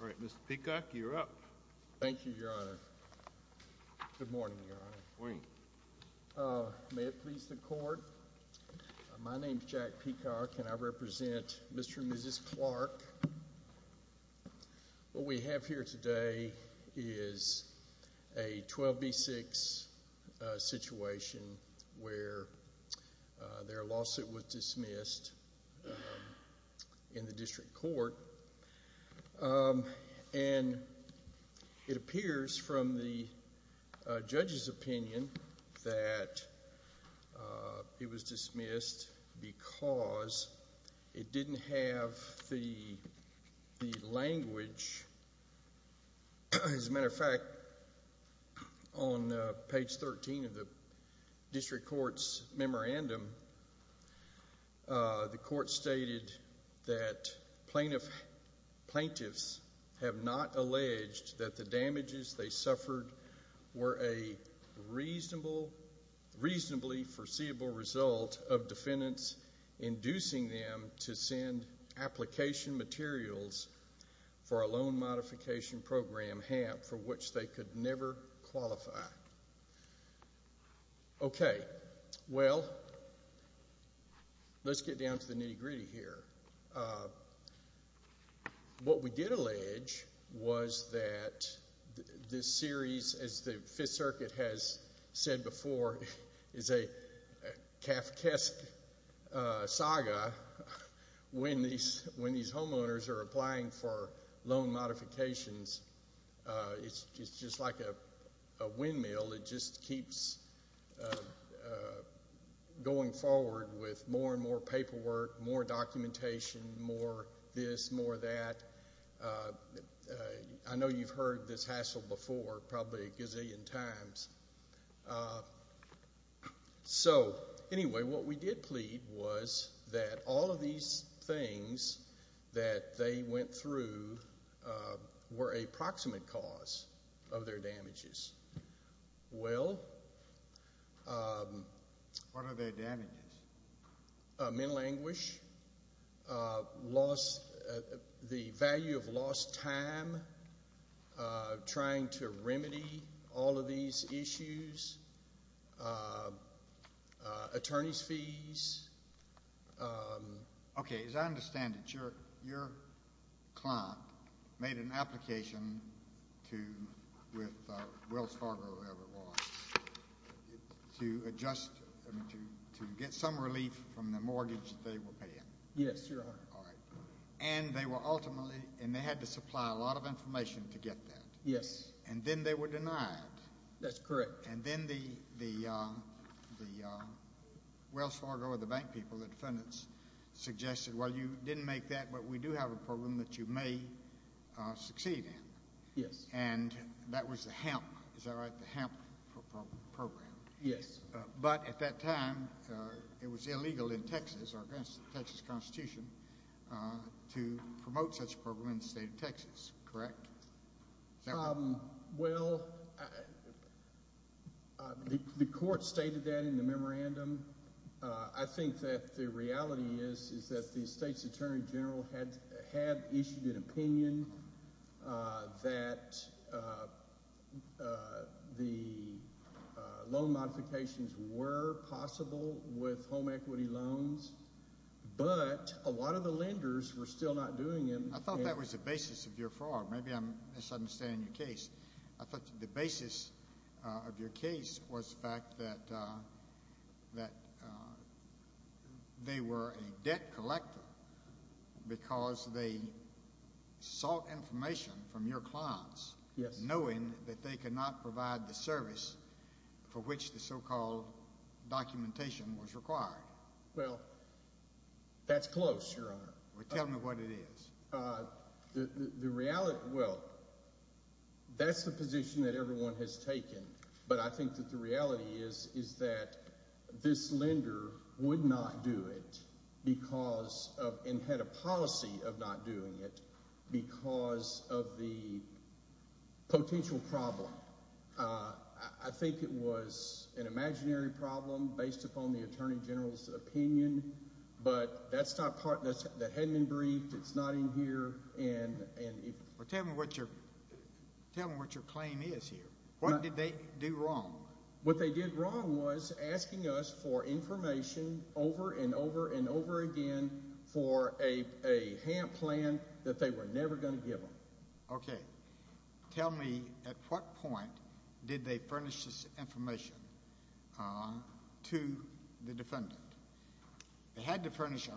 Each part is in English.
All right, Mr. Peacock. You're up. Thank you, Your Honor. Good morning, Your Honor. Good morning. May it please the court, my name is Jack Peacock and I represent Mr. and Mrs. Clark. What we have here today is a 12 v. 6 situation where their lawsuit was dismissed in the district court. And it appears from the judge's opinion that it was dismissed because it didn't have the language. As a matter of fact, on page 13 of the district court's memorandum, the court stated that plaintiffs have not alleged that the damages they suffered were a reasonably foreseeable result of defendants inducing them to send application materials for a loan modification program, HAMP, for which they could never qualify. Okay, well, let's get down to the nitty gritty here. What we did allege was that this series, as the Fifth Circuit has said before, is a Kafkaesque saga when these homeowners are applying for loan modifications. It's just like a windmill. It just keeps going forward with more and more paperwork, more documentation, more this, more that. I know you've heard this hassle before probably a gazillion times. So, anyway, what we did plead was that all of these things that they went through were a proximate cause of their damages. Well? What are their damages? Mental anguish, loss, the value of lost time, trying to remedy all of these issues, attorney's fees. Okay, as I understand it, your client made an application with Wells Fargo or whoever it was to adjust, to get some relief from the mortgage they were paying. Yes, Your Honor. All right. And they were ultimately, and they had to supply a lot of information to get that. Yes. And then they were denied. That's correct. And then the Wells Fargo or the bank people, the defendants, suggested, well, you didn't make that, but we do have a program that you may succeed in. Yes. And that was the HAMP, is that right, the HAMP program? Yes. But at that time, it was illegal in Texas, or against the Texas Constitution, to promote such a program in the state of Texas, correct? Well, the court stated that in the memorandum. I think that the reality is that the state's attorney general had issued an opinion that the loan modifications were possible with home equity loans, but a lot of the lenders were still not doing them. I thought that was the basis of your fraud. Maybe I'm misunderstanding your case. I thought the basis of your case was the fact that they were a debt collector because they sought information from your clients. Yes. Knowing that they could not provide the service for which the so-called documentation was required. Well, that's close, Your Honor. Tell me what it is. The reality, well, that's the position that everyone has taken, but I think that the reality is that this lender would not do it because of, and had a policy of not doing it because of the potential problem. I think it was an imaginary problem based upon the attorney general's opinion, but that hadn't been briefed. It's not in here. Tell me what your claim is here. What did they do wrong? What they did wrong was asking us for information over and over and over again for a HAMP plan that they were never going to give them. Okay. Tell me at what point did they furnish this information to the defendant? They had to furnish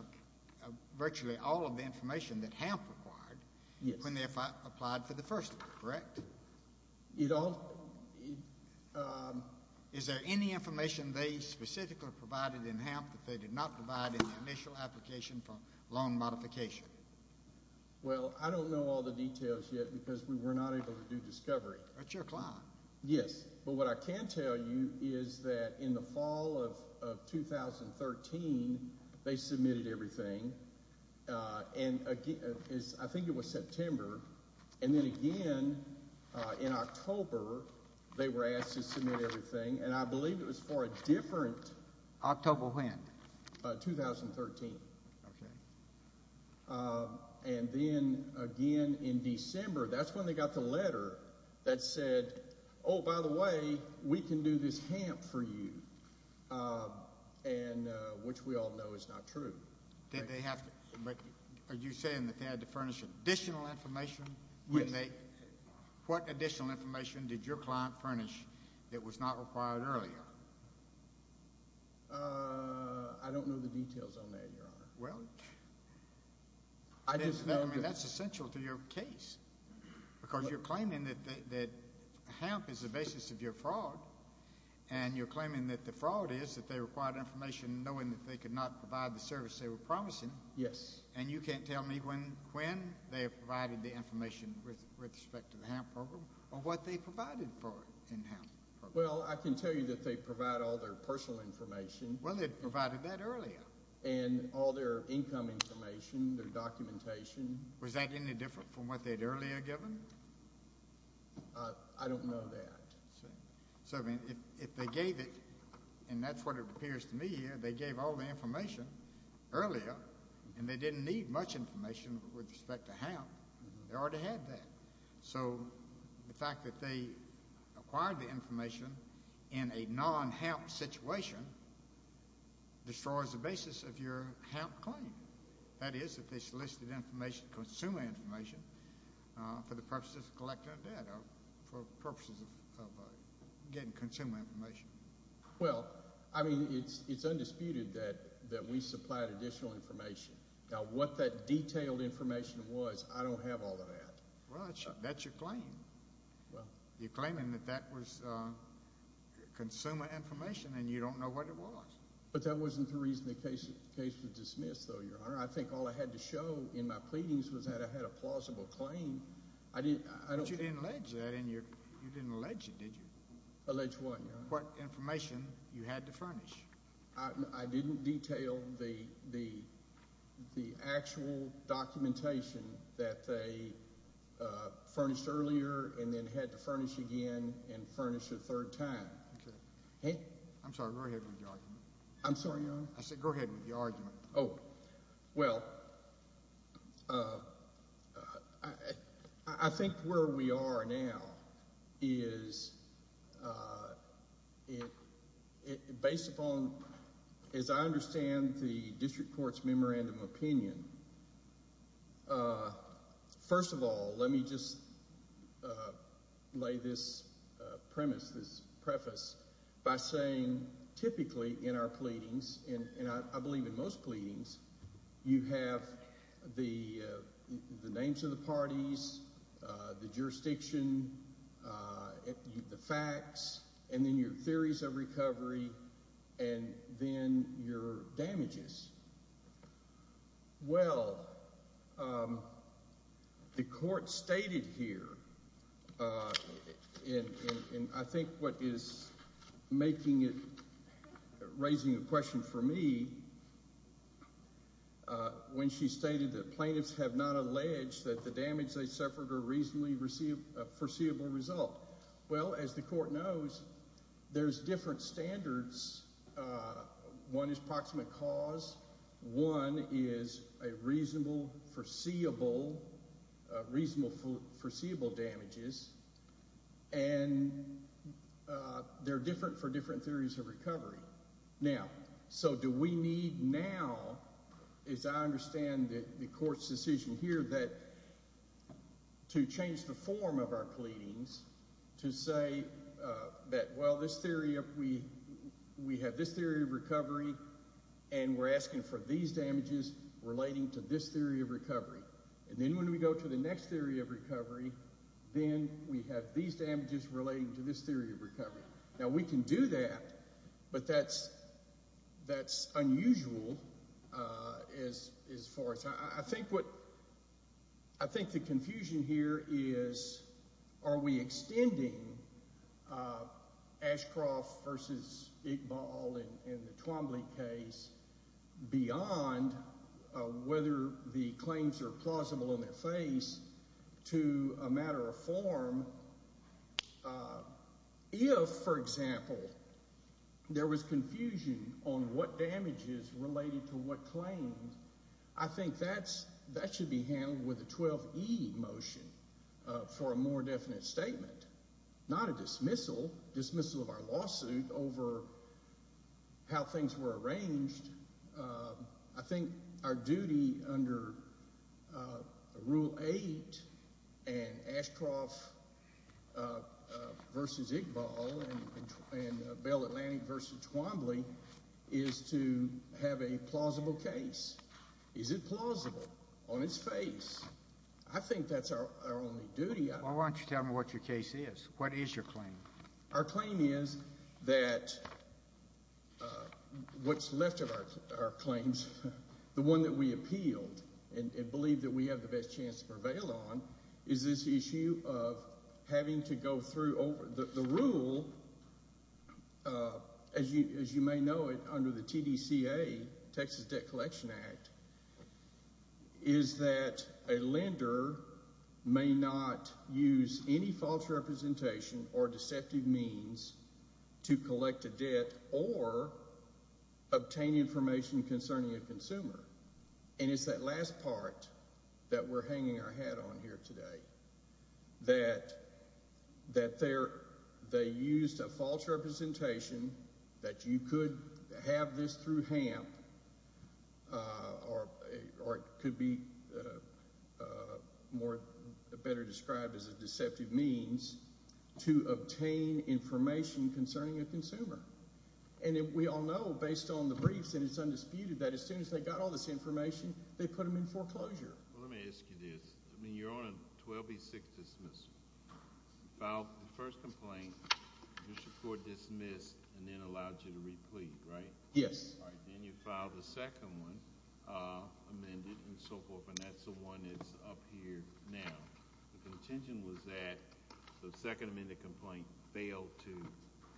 virtually all of the information that HAMP required when they applied for the first one, correct? Is there any information they specifically provided in HAMP that they did not provide in the initial application for loan modification? Well, I don't know all the details yet because we were not able to do discovery. That's your client. Yes, but what I can tell you is that in the fall of 2013, they submitted everything, and I think it was September, and then again in October they were asked to submit everything, and I believe it was for a different. October when? 2013. Okay. And then again in December, that's when they got the letter that said, oh, by the way, we can do this HAMP for you, which we all know is not true. Did they have to? Are you saying that they had to furnish additional information? Yes. What additional information did your client furnish that was not required earlier? I don't know the details on that, Your Honor. Well, that's essential to your case because you're claiming that HAMP is the basis of your fraud, and you're claiming that the fraud is that they required information knowing that they could not provide the service they were promising. Yes. And you can't tell me when they provided the information with respect to the HAMP program or what they provided for in HAMP. Well, I can tell you that they provide all their personal information. Well, they provided that earlier. And all their income information, their documentation. Was that any different from what they had earlier given? I don't know that. So, I mean, if they gave it, and that's what it appears to me here, they gave all the information earlier, and they didn't need much information with respect to HAMP. They already had that. So, the fact that they acquired the information in a non-HAMP situation destroys the basis of your HAMP claim. That is, if they solicited information, consumer information, for the purposes of collecting data, for purposes of getting consumer information. Well, I mean, it's undisputed that we supplied additional information. Now, what that detailed information was, I don't have all of that. Well, that's your claim. You're claiming that that was consumer information, and you don't know what it was. But that wasn't the reason the case was dismissed, though, Your Honor. I think all I had to show in my pleadings was that I had a plausible claim. But you didn't allege that, and you didn't allege it, did you? Allege what, Your Honor? What information you had to furnish. I didn't detail the actual documentation that they furnished earlier and then had to furnish again and furnish a third time. Okay. I'm sorry, go ahead with your argument. I'm sorry, Your Honor? I said go ahead with your argument. Well, I think where we are now is based upon, as I understand the district court's memorandum of opinion, first of all, let me just lay this premise, this preface, by saying typically in our pleadings, and I believe in most pleadings, you have the names of the parties, the jurisdiction, the facts, and then your theories of recovery, and then your damages. Well, the court stated here, and I think what is making it, raising the question for me, when she stated that plaintiffs have not alleged that the damage they suffered or reasonably foreseeable result, well, as the court knows, there's different standards. One is proximate cause. One is a reasonable foreseeable damages, and they're different for different theories of recovery. Now, so do we need now, as I understand the court's decision here, to change the form of our pleadings to say that, well, we have this theory of recovery, and we're asking for these damages relating to this theory of recovery. And then when we go to the next theory of recovery, then we have these damages relating to this theory of recovery. Now, we can do that, but that's unusual as far as… I think the confusion here is are we extending Ashcroft v. Iqbal in the Twombly case beyond whether the claims are plausible in their face to a matter of form. If, for example, there was confusion on what damages related to what claims, I think that should be handled with a 12E motion for a more definite statement, not a dismissal, dismissal of our lawsuit over how things were arranged. I think our duty under Rule 8 and Ashcroft v. Iqbal and Bell Atlantic v. Twombly is to have a plausible case. Is it plausible on its face? I think that's our only duty. Well, why don't you tell me what your case is? What is your claim? Our claim is that what's left of our claims, the one that we appealed and believe that we have the best chance to prevail on, is this issue of having to go through… The rule, as you may know it under the TDCA, Texas Debt Collection Act, is that a lender may not use any false representation or deceptive means to collect a debt or obtain information concerning a consumer. And it's that last part that we're hanging our hat on here today, that they used a false representation, that you could have this through HAMP, or it could be better described as a deceptive means, to obtain information concerning a consumer. And we all know, based on the briefs and it's undisputed, that as soon as they got all this information, they put them in foreclosure. Well, let me ask you this. I mean, you're on a 12B6 dismissal. You filed the first complaint, your support dismissed, and then allowed you to re-plead, right? Yes. All right, then you filed the second one, amended and so forth, and that's the one that's up here now. The contention was that the second amended complaint failed to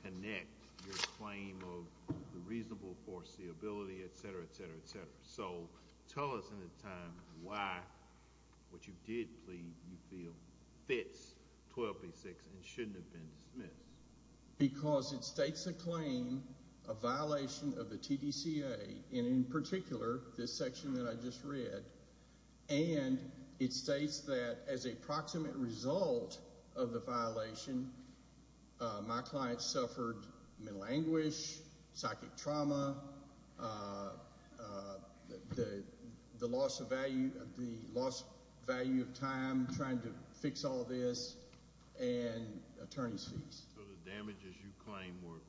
connect your claim of the reasonable foreseeability, et cetera, et cetera, et cetera. So tell us in the time why what you did plead you feel fits 12B6 and shouldn't have been dismissed. Because it states a claim, a violation of the TDCA, and in particular this section that I just read. And it states that as a proximate result of the violation, my client suffered mental anguish, psychic trauma, the loss of value of time trying to fix all this, and attorney's fees. So the damages you claim were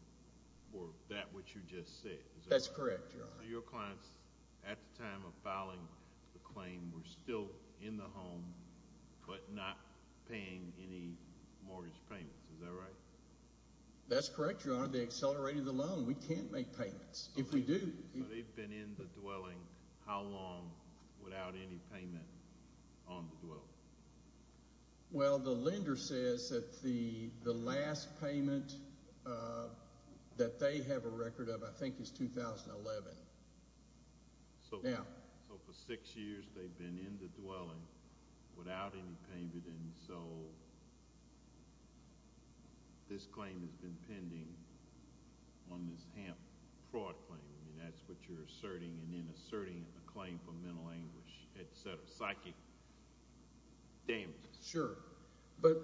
that which you just said. That's correct, Your Honor. So your clients at the time of filing the claim were still in the home but not paying any mortgage payments. Is that right? That's correct, Your Honor. They accelerated the loan. We can't make payments. If we do. So they've been in the dwelling how long without any payment on the dwelling? Well, the lender says that the last payment that they have a record of, I think, is 2011. So for six years they've been in the dwelling without any payment, and so this claim has been pending on this HAMP fraud claim. I mean, that's what you're asserting and then asserting a claim for mental anguish, et cetera, psychic damages. Sure. But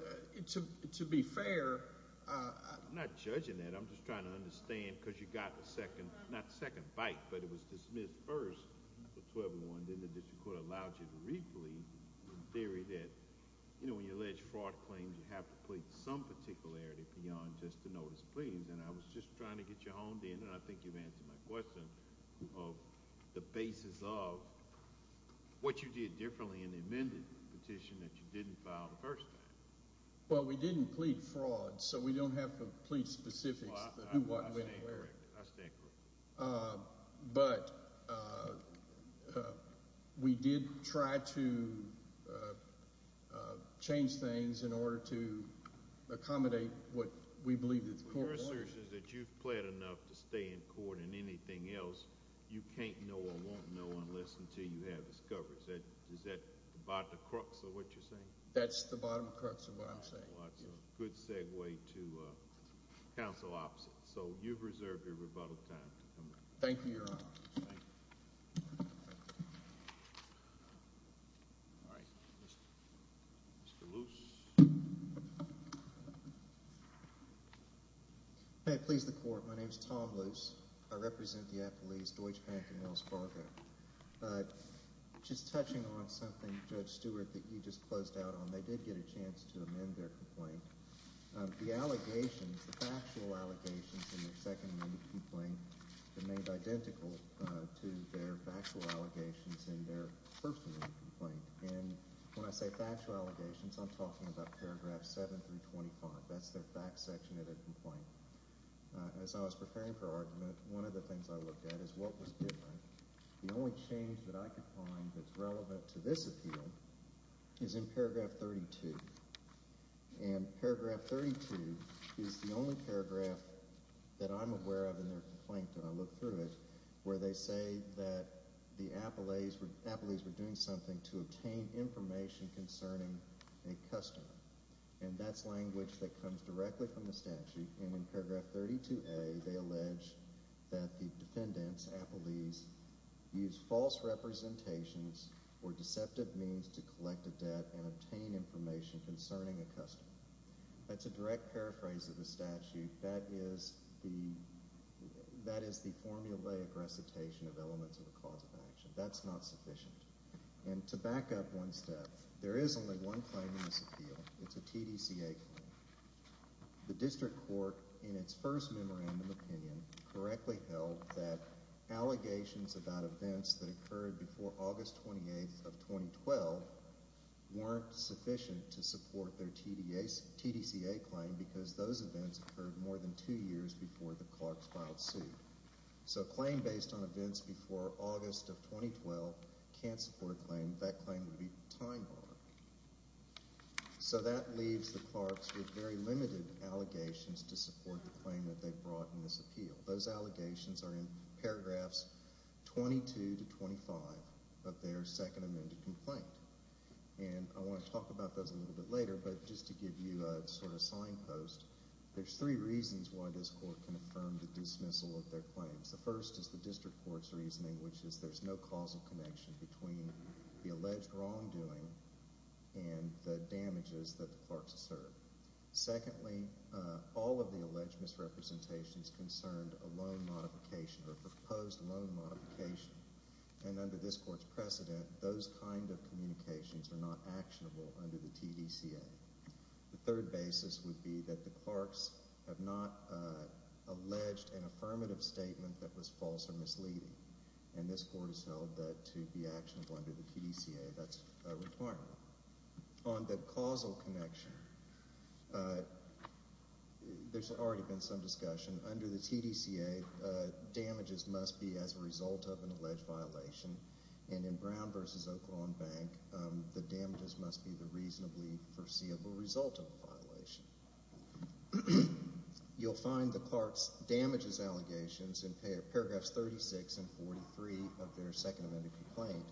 to be fair, I'm not judging that. I'm just trying to understand because you got the second, not the second bite, but it was dismissed first for 1201, then the district court allowed you to re-plead in theory that, you know, when you allege fraud claims, you have to plead some particularity beyond just the notice of pleadings, and I was just trying to get you honed in, and I think you've answered my question of the basis of what you did differently in the amended petition that you didn't file the first time. Well, we didn't plead fraud, so we don't have complete specifics of who what and when and where. I stand corrected. But we did try to change things in order to accommodate what we believe that the court wanted. Your assertion is that you've pled enough to stay in court and anything else you can't know or won't know unless until you have this coverage. Is that the bottom of the crux of what you're saying? That's the bottom of the crux of what I'm saying. Well, that's a good segue to counsel opposite. So you've reserved your rebuttal time. Thank you, Your Honor. Thank you. All right. Mr. Luce. May it please the Court. My name is Tom Luce. I represent the affiliates Deutsche Bank and Wells Fargo. But just touching on something, Judge Stewart, that you just closed out on, they did get a chance to amend their complaint. The allegations, the factual allegations in their second amendment complaint, remained identical to their factual allegations in their first amendment complaint. And when I say factual allegations, I'm talking about paragraphs 7 through 25. That's their fact section of their complaint. As I was preparing for argument, one of the things I looked at is what was different. The only change that I could find that's relevant to this appeal is in paragraph 32. And paragraph 32 is the only paragraph that I'm aware of in their complaint, and I looked through it, where they say that the appellees were doing something to obtain information concerning a customer. And that's language that comes directly from the statute. And in paragraph 32A, they allege that the defendants, appellees, used false representations or deceptive means to collect a debt and obtain information concerning a customer. That's a direct paraphrase of the statute. That is the formulaic recitation of elements of a cause of action. That's not sufficient. And to back up one step, there is only one claim in this appeal. It's a TDCA claim. The district court, in its first memorandum opinion, correctly held that allegations about events that occurred before August 28th of 2012 weren't sufficient to support their TDCA claim because those events occurred more than two years before the clerks filed suit. So a claim based on events before August of 2012 can't support a claim. That claim would be time-bombing. So that leaves the clerks with very limited allegations to support the claim that they've brought in this appeal. Those allegations are in paragraphs 22 to 25 of their second amended complaint. And I want to talk about those a little bit later, but just to give you a sort of signpost, there's three reasons why this court can affirm the dismissal of their claims. The first is the district court's reasoning, which is there's no causal connection between the alleged wrongdoing and the damages that the clerks have served. Secondly, all of the alleged misrepresentations concerned a loan modification or a proposed loan modification. And under this court's precedent, those kind of communications are not actionable under the TDCA. The third basis would be that the clerks have not alleged an affirmative statement that was false or misleading. And this court has held that to be actionable under the TDCA, that's a requirement. On the causal connection, there's already been some discussion. Under the TDCA, damages must be as a result of an alleged violation. And in Brown v. Oklahoma Bank, the damages must be the reasonably foreseeable result of a violation. You'll find the clerk's damages allegations in paragraphs 36 and 43 of their Second Amendment complaint,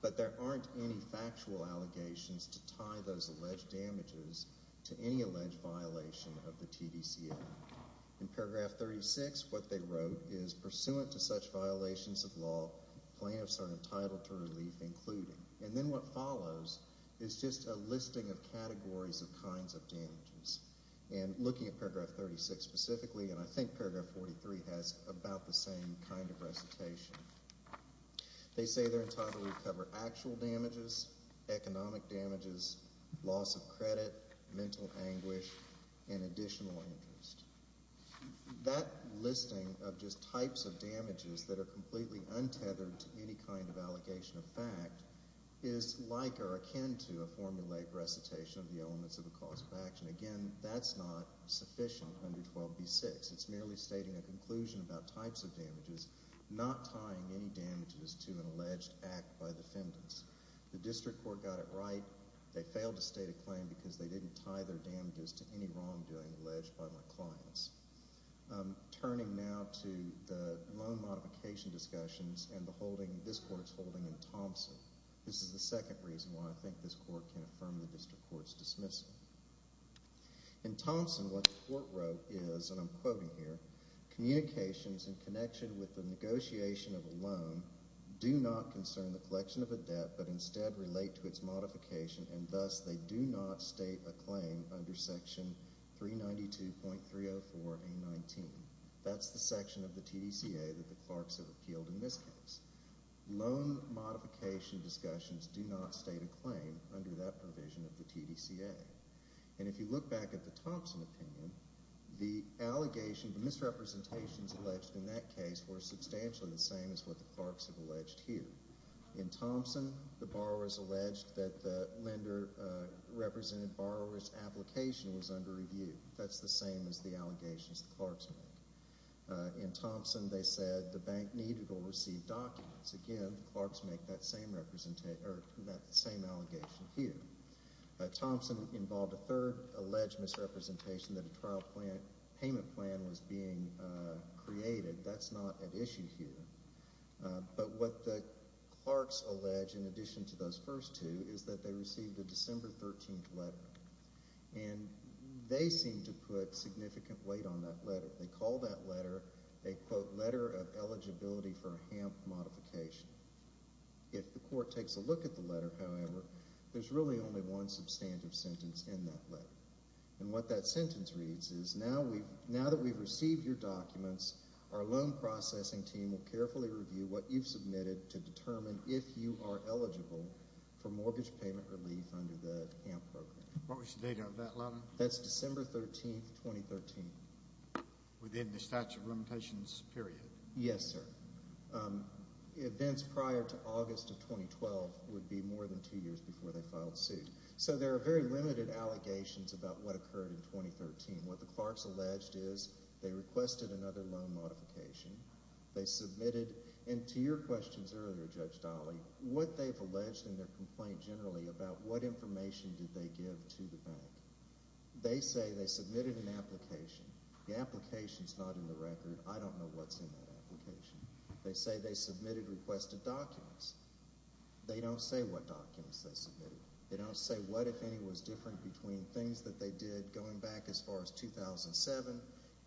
but there aren't any factual allegations to tie those alleged damages to any alleged violation of the TDCA. In paragraph 36, what they wrote is, pursuant to such violations of law, plaintiffs are entitled to relief, including. And then what follows is just a listing of categories of kinds of damages. And looking at paragraph 36 specifically, and I think paragraph 43 has about the same kind of recitation. They say they're entitled to recover actual damages, economic damages, loss of credit, mental anguish, and additional interest. That listing of just types of damages that are completely untethered to any kind of allegation of fact is like or akin to a formulaic recitation of the elements of a cause of action. Again, that's not sufficient under 12b-6. It's merely stating a conclusion about types of damages, not tying any damages to an alleged act by defendants. The district court got it right. They failed to state a claim because they didn't tie their damages to any wrongdoing alleged by my clients. Turning now to the loan modification discussions and the holding this court is holding in Thompson. This is the second reason why I think this court can affirm the district court's dismissal. In Thompson, what the court wrote is, and I'm quoting here, communications in connection with the negotiation of a loan do not concern the collection of a debt, but instead relate to its modification, and thus they do not state a claim under section 392.304A19. That's the section of the TDCA that the Clarks have appealed in this case. Loan modification discussions do not state a claim under that provision of the TDCA. And if you look back at the Thompson opinion, the allegation, the misrepresentations alleged in that case were substantially the same as what the Clarks have alleged here. In Thompson, the borrowers alleged that the lender represented borrower's application was under review. That's the same as the allegations the Clarks make. In Thompson, they said the bank needed or received documents. Again, the Clarks make that same allegation here. Thompson involved a third alleged misrepresentation that a trial payment plan was being created. That's not at issue here. But what the Clarks allege, in addition to those first two, is that they received a December 13th letter. And they seem to put significant weight on that letter. They call that letter a, quote, letter of eligibility for a HAMP modification. If the court takes a look at the letter, however, there's really only one substantive sentence in that letter. And what that sentence reads is, now that we've received your documents, our loan processing team will carefully review what you've submitted to determine if you are eligible for mortgage payment relief under the HAMP program. What was the date of that loan? That's December 13th, 2013. Within the statute of limitations period? Yes, sir. Events prior to August of 2012 would be more than two years before they filed suit. So there are very limited allegations about what occurred in 2013. What the Clarks alleged is they requested another loan modification. They submitted, and to your questions earlier, Judge Dolly, what they've alleged in their complaint generally about what information did they give to the bank. They say they submitted an application. The application's not in the record. I don't know what's in that application. They say they submitted requested documents. They don't say what documents they submitted. They don't say what, if any, was different between things that they did going back as far as 2007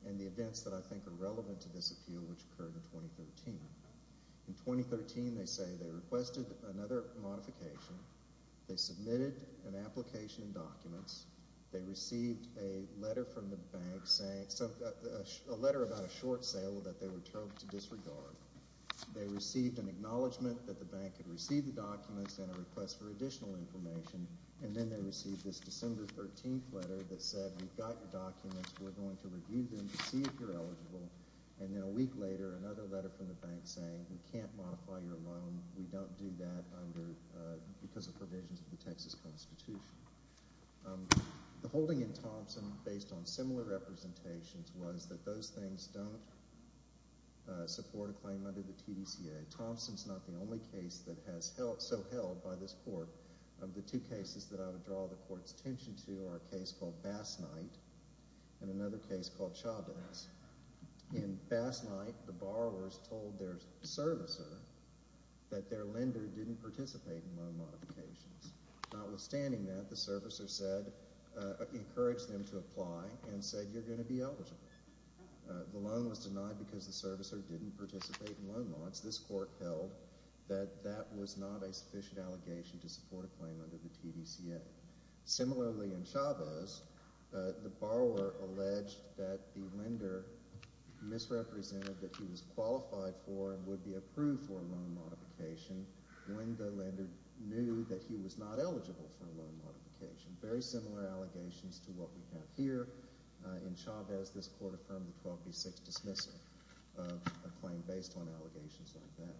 and the events that I think are relevant to this appeal, which occurred in 2013. In 2013, they say they requested another modification. They submitted an application and documents. They received a letter from the bank saying, a letter about a short sale that they were told to disregard. They received an acknowledgment that the bank had received the documents and a request for additional information, and then they received this December 13th letter that said, We've got your documents. We're going to review them to see if you're eligible. And then a week later, another letter from the bank saying, We can't modify your loan. We don't do that because of provisions of the Texas Constitution. The holding in Thompson, based on similar representations, was that those things don't support a claim under the TDCA. Thompson's not the only case that has so held by this court. The two cases that I would draw the court's attention to are a case called Bass Knight and another case called Chavez. In Bass Knight, the borrowers told their servicer that their lender didn't participate in loan modifications. Notwithstanding that, the servicer encouraged them to apply and said, You're going to be eligible. The loan was denied because the servicer didn't participate in loan mods. This court held that that was not a sufficient allegation to support a claim under the TDCA. Similarly in Chavez, the borrower alleged that the lender misrepresented that he was qualified for and would be approved for a loan modification when the lender knew that he was not eligible for a loan modification. Very similar allegations to what we have here. In Chavez, this court affirmed the 12B6 dismissal of a claim based on allegations like that.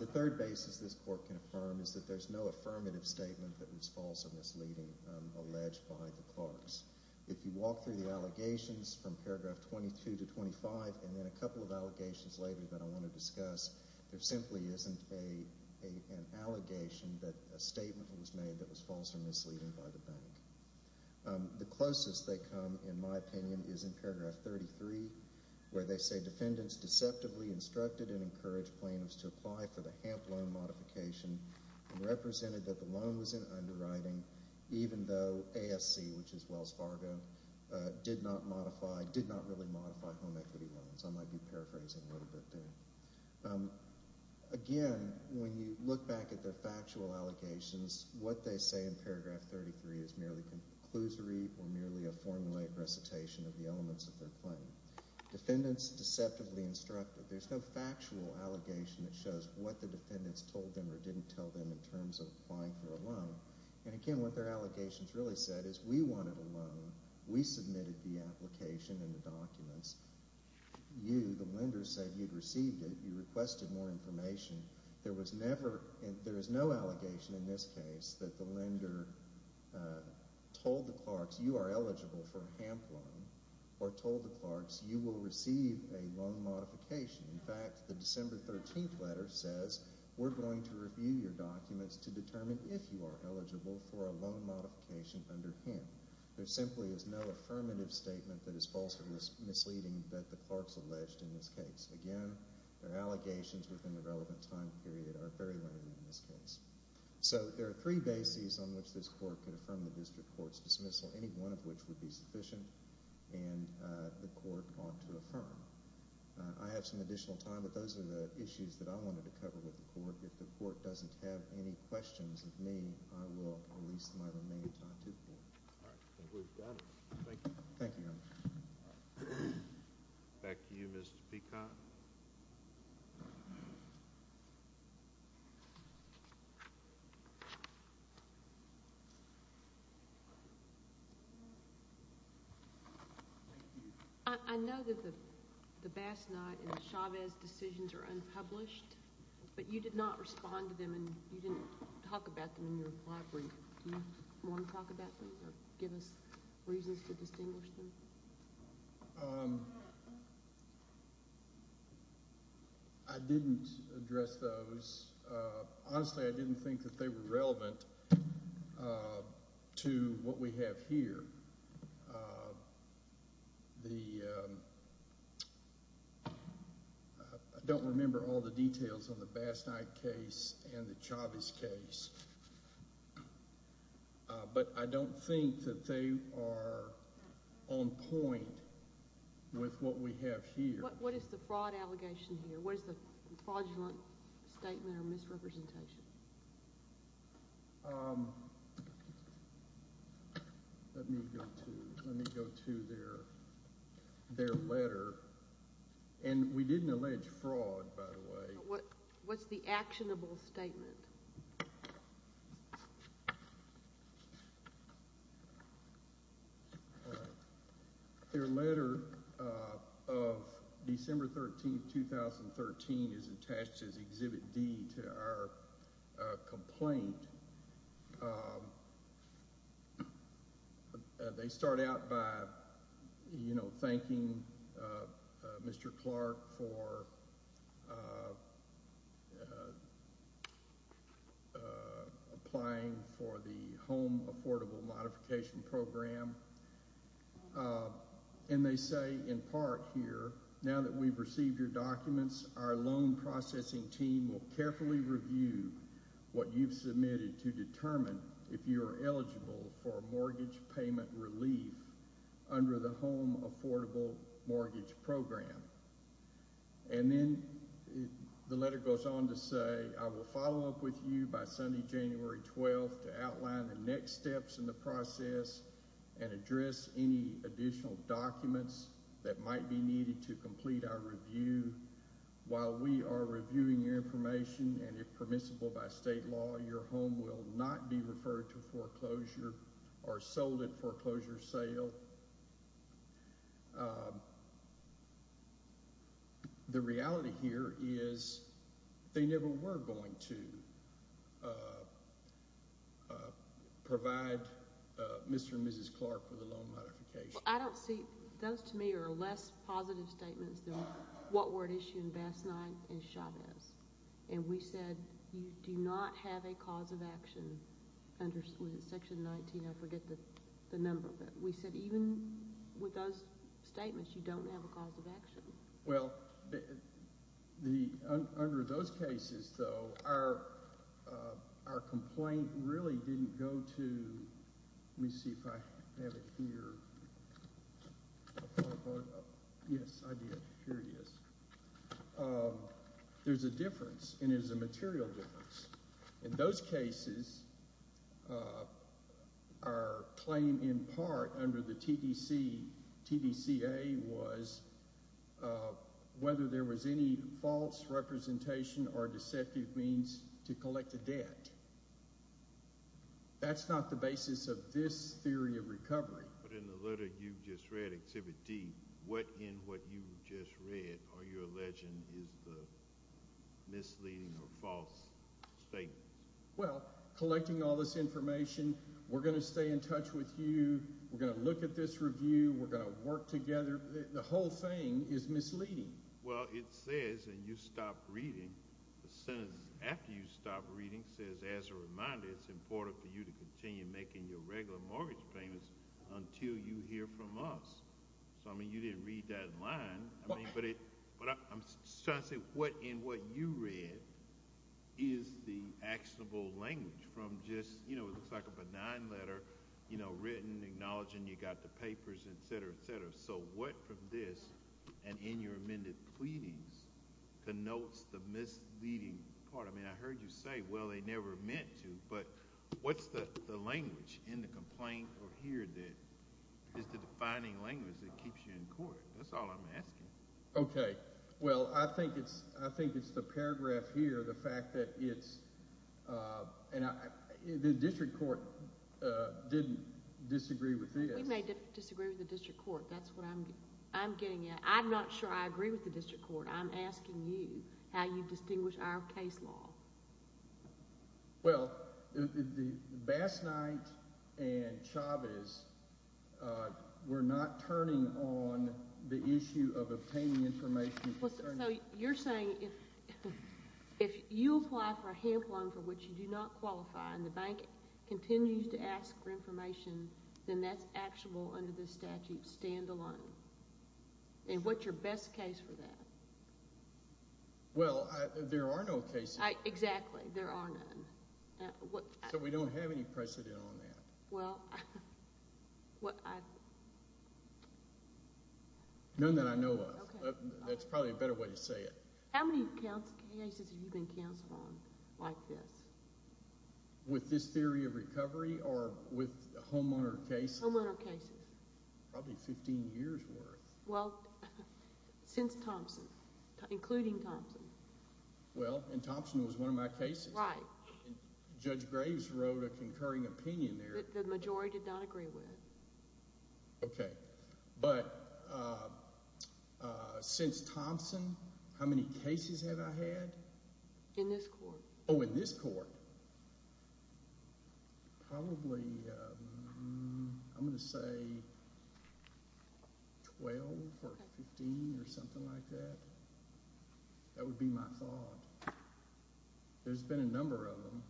The third basis this court can affirm is that there's no affirmative statement that was false or misleading alleged by the Clarks. If you walk through the allegations from paragraph 22 to 25 and then a couple of allegations later that I want to discuss, there simply isn't an allegation that a statement was made that was false or misleading by the bank. The closest they come, in my opinion, is in paragraph 33 where they say defendants deceptively instructed and encouraged plaintiffs to apply for the HAMP loan modification and represented that the loan was in underwriting even though ASC, which is Wells Fargo, did not really modify home equity loans. I might be paraphrasing a little bit there. Again, when you look back at their factual allegations, what they say in paragraph 33 is merely conclusory or merely a formulated recitation of the elements of their claim. Defendants deceptively instructed. There's no factual allegation that shows what the defendants told them or didn't tell them in terms of applying for a loan. Again, what their allegations really said is we wanted a loan. We submitted the application and the documents. You, the lender, said you'd received it. You requested more information. There is no allegation in this case that the lender told the Clarks you are eligible for a HAMP loan or told the Clarks you will receive a loan modification. In fact, the December 13th letter says we're going to review your documents to determine if you are eligible for a loan modification under HAMP. There simply is no affirmative statement that is false or misleading that the Clarks alleged in this case. Again, their allegations within the relevant time period are very limited in this case. So there are three bases on which this Court could affirm the district court's dismissal. Any one of which would be sufficient, and the Court ought to affirm. I have some additional time, but those are the issues that I wanted to cover with the Court. If the Court doesn't have any questions of me, I will release my remaining time to the Court. All right. We've got it. Thank you. Thank you, Your Honor. Back to you, Mr. Peacock. Thank you. I know that the Bass Knot and the Chavez decisions are unpublished, but you did not respond to them and you didn't talk about them in your reply brief. Do you want to talk about them or give us reasons to distinguish them? I didn't address those. Honestly, I didn't think that they were relevant to what we have here. I don't remember all the details on the Bass Knot case and the Chavez case, but I don't think that they are on point with what we have here. What is the fraud allegation here? What is the fraudulent statement or misrepresentation? Let me go to their letter. And we didn't allege fraud, by the way. What's the actionable statement? All right. Their letter of December 13, 2013 is attached as Exhibit D to our complaint. They start out by thanking Mr. Clark for applying for the Home Affordable Modification Program. And they say in part here, Now that we've received your documents, our loan processing team will carefully review what you've submitted to determine if you are eligible for mortgage payment relief under the Home Affordable Mortgage Program. And then the letter goes on to say, I will follow up with you by Sunday, January 12, to outline the next steps in the process and address any additional documents that might be needed to complete our review. While we are reviewing your information, and if permissible by state law, your home will not be referred to foreclosure or sold at foreclosure sale. The reality here is they never were going to provide Mr. and Mrs. Clark with a loan modification. I don't see, those to me are less positive statements than what were issued in Bass IX and Chavez. And we said you do not have a cause of action under Section 19, I forget the number, but we said even with those statements, you don't have a cause of action. Well, under those cases, though, our complaint really didn't go to, let me see if I have it here. Yes, I did. Here it is. There's a difference, and it is a material difference. In those cases, our claim in part under the TDCA was whether there was any false representation or deceptive means to collect a debt. That's not the basis of this theory of recovery. But in the letter you just read, Exhibit D, what in what you just read are you alleging is the misleading or false statement? Well, collecting all this information, we're going to stay in touch with you, we're going to look at this review, we're going to work together. The whole thing is misleading. Well, it says, and you stopped reading, the sentence after you stopped reading says, as a reminder, it's important for you to continue making your regular mortgage payments until you hear from us. So, I mean, you didn't read that in line. But I'm trying to say what in what you read is the actionable language from just, you know, it looks like a benign letter, you know, written acknowledging you got the papers, et cetera, et cetera. So what from this and in your amended pleadings denotes the misleading part? I mean, I heard you say, well, they never meant to. But what's the language in the complaint over here that is the defining language that keeps you in court? That's all I'm asking. Okay. Well, I think it's the paragraph here, the fact that it's the district court didn't disagree with this. We may disagree with the district court. That's what I'm getting at. I'm not sure I agree with the district court. I'm asking you how you distinguish our case law. Well, Bass Knight and Chavez were not turning on the issue of obtaining information. So you're saying if you apply for a HAMP loan for which you do not qualify and the bank continues to ask for information, then that's actionable under this statute stand-alone. And what's your best case for that? Well, there are no cases. Exactly. There are none. So we don't have any precedent on that. Well, I – None that I know of. That's probably a better way to say it. How many cases have you been counseled on like this? With this theory of recovery or with homeowner cases? Homeowner cases. Probably 15 years' worth. Well, since Thompson, including Thompson. Well, and Thompson was one of my cases. Right. And Judge Graves wrote a concurring opinion there. The majority did not agree with it. Okay. But since Thompson, how many cases have I had? In this court. Oh, in this court. Probably, I'm going to say 12 or 15 or something like that. That would be my thought. There's been a number of them.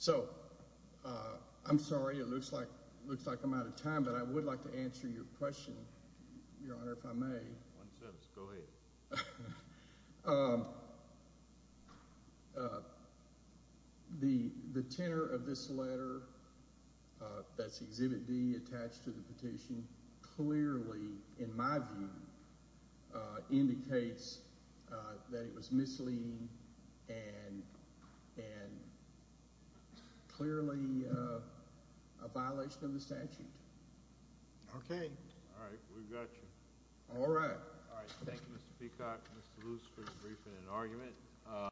So I'm sorry. It looks like I'm out of time, but I would like to answer your question, Your Honor, if I may. Go ahead. The tenor of this letter that's Exhibit D attached to the petition clearly, in my view, indicates that it was misleading and clearly a violation of the statute. Okay. All right. We've got you. All right. Thank you, Mr. Peacock and Mr. Luce, for the briefing and argument.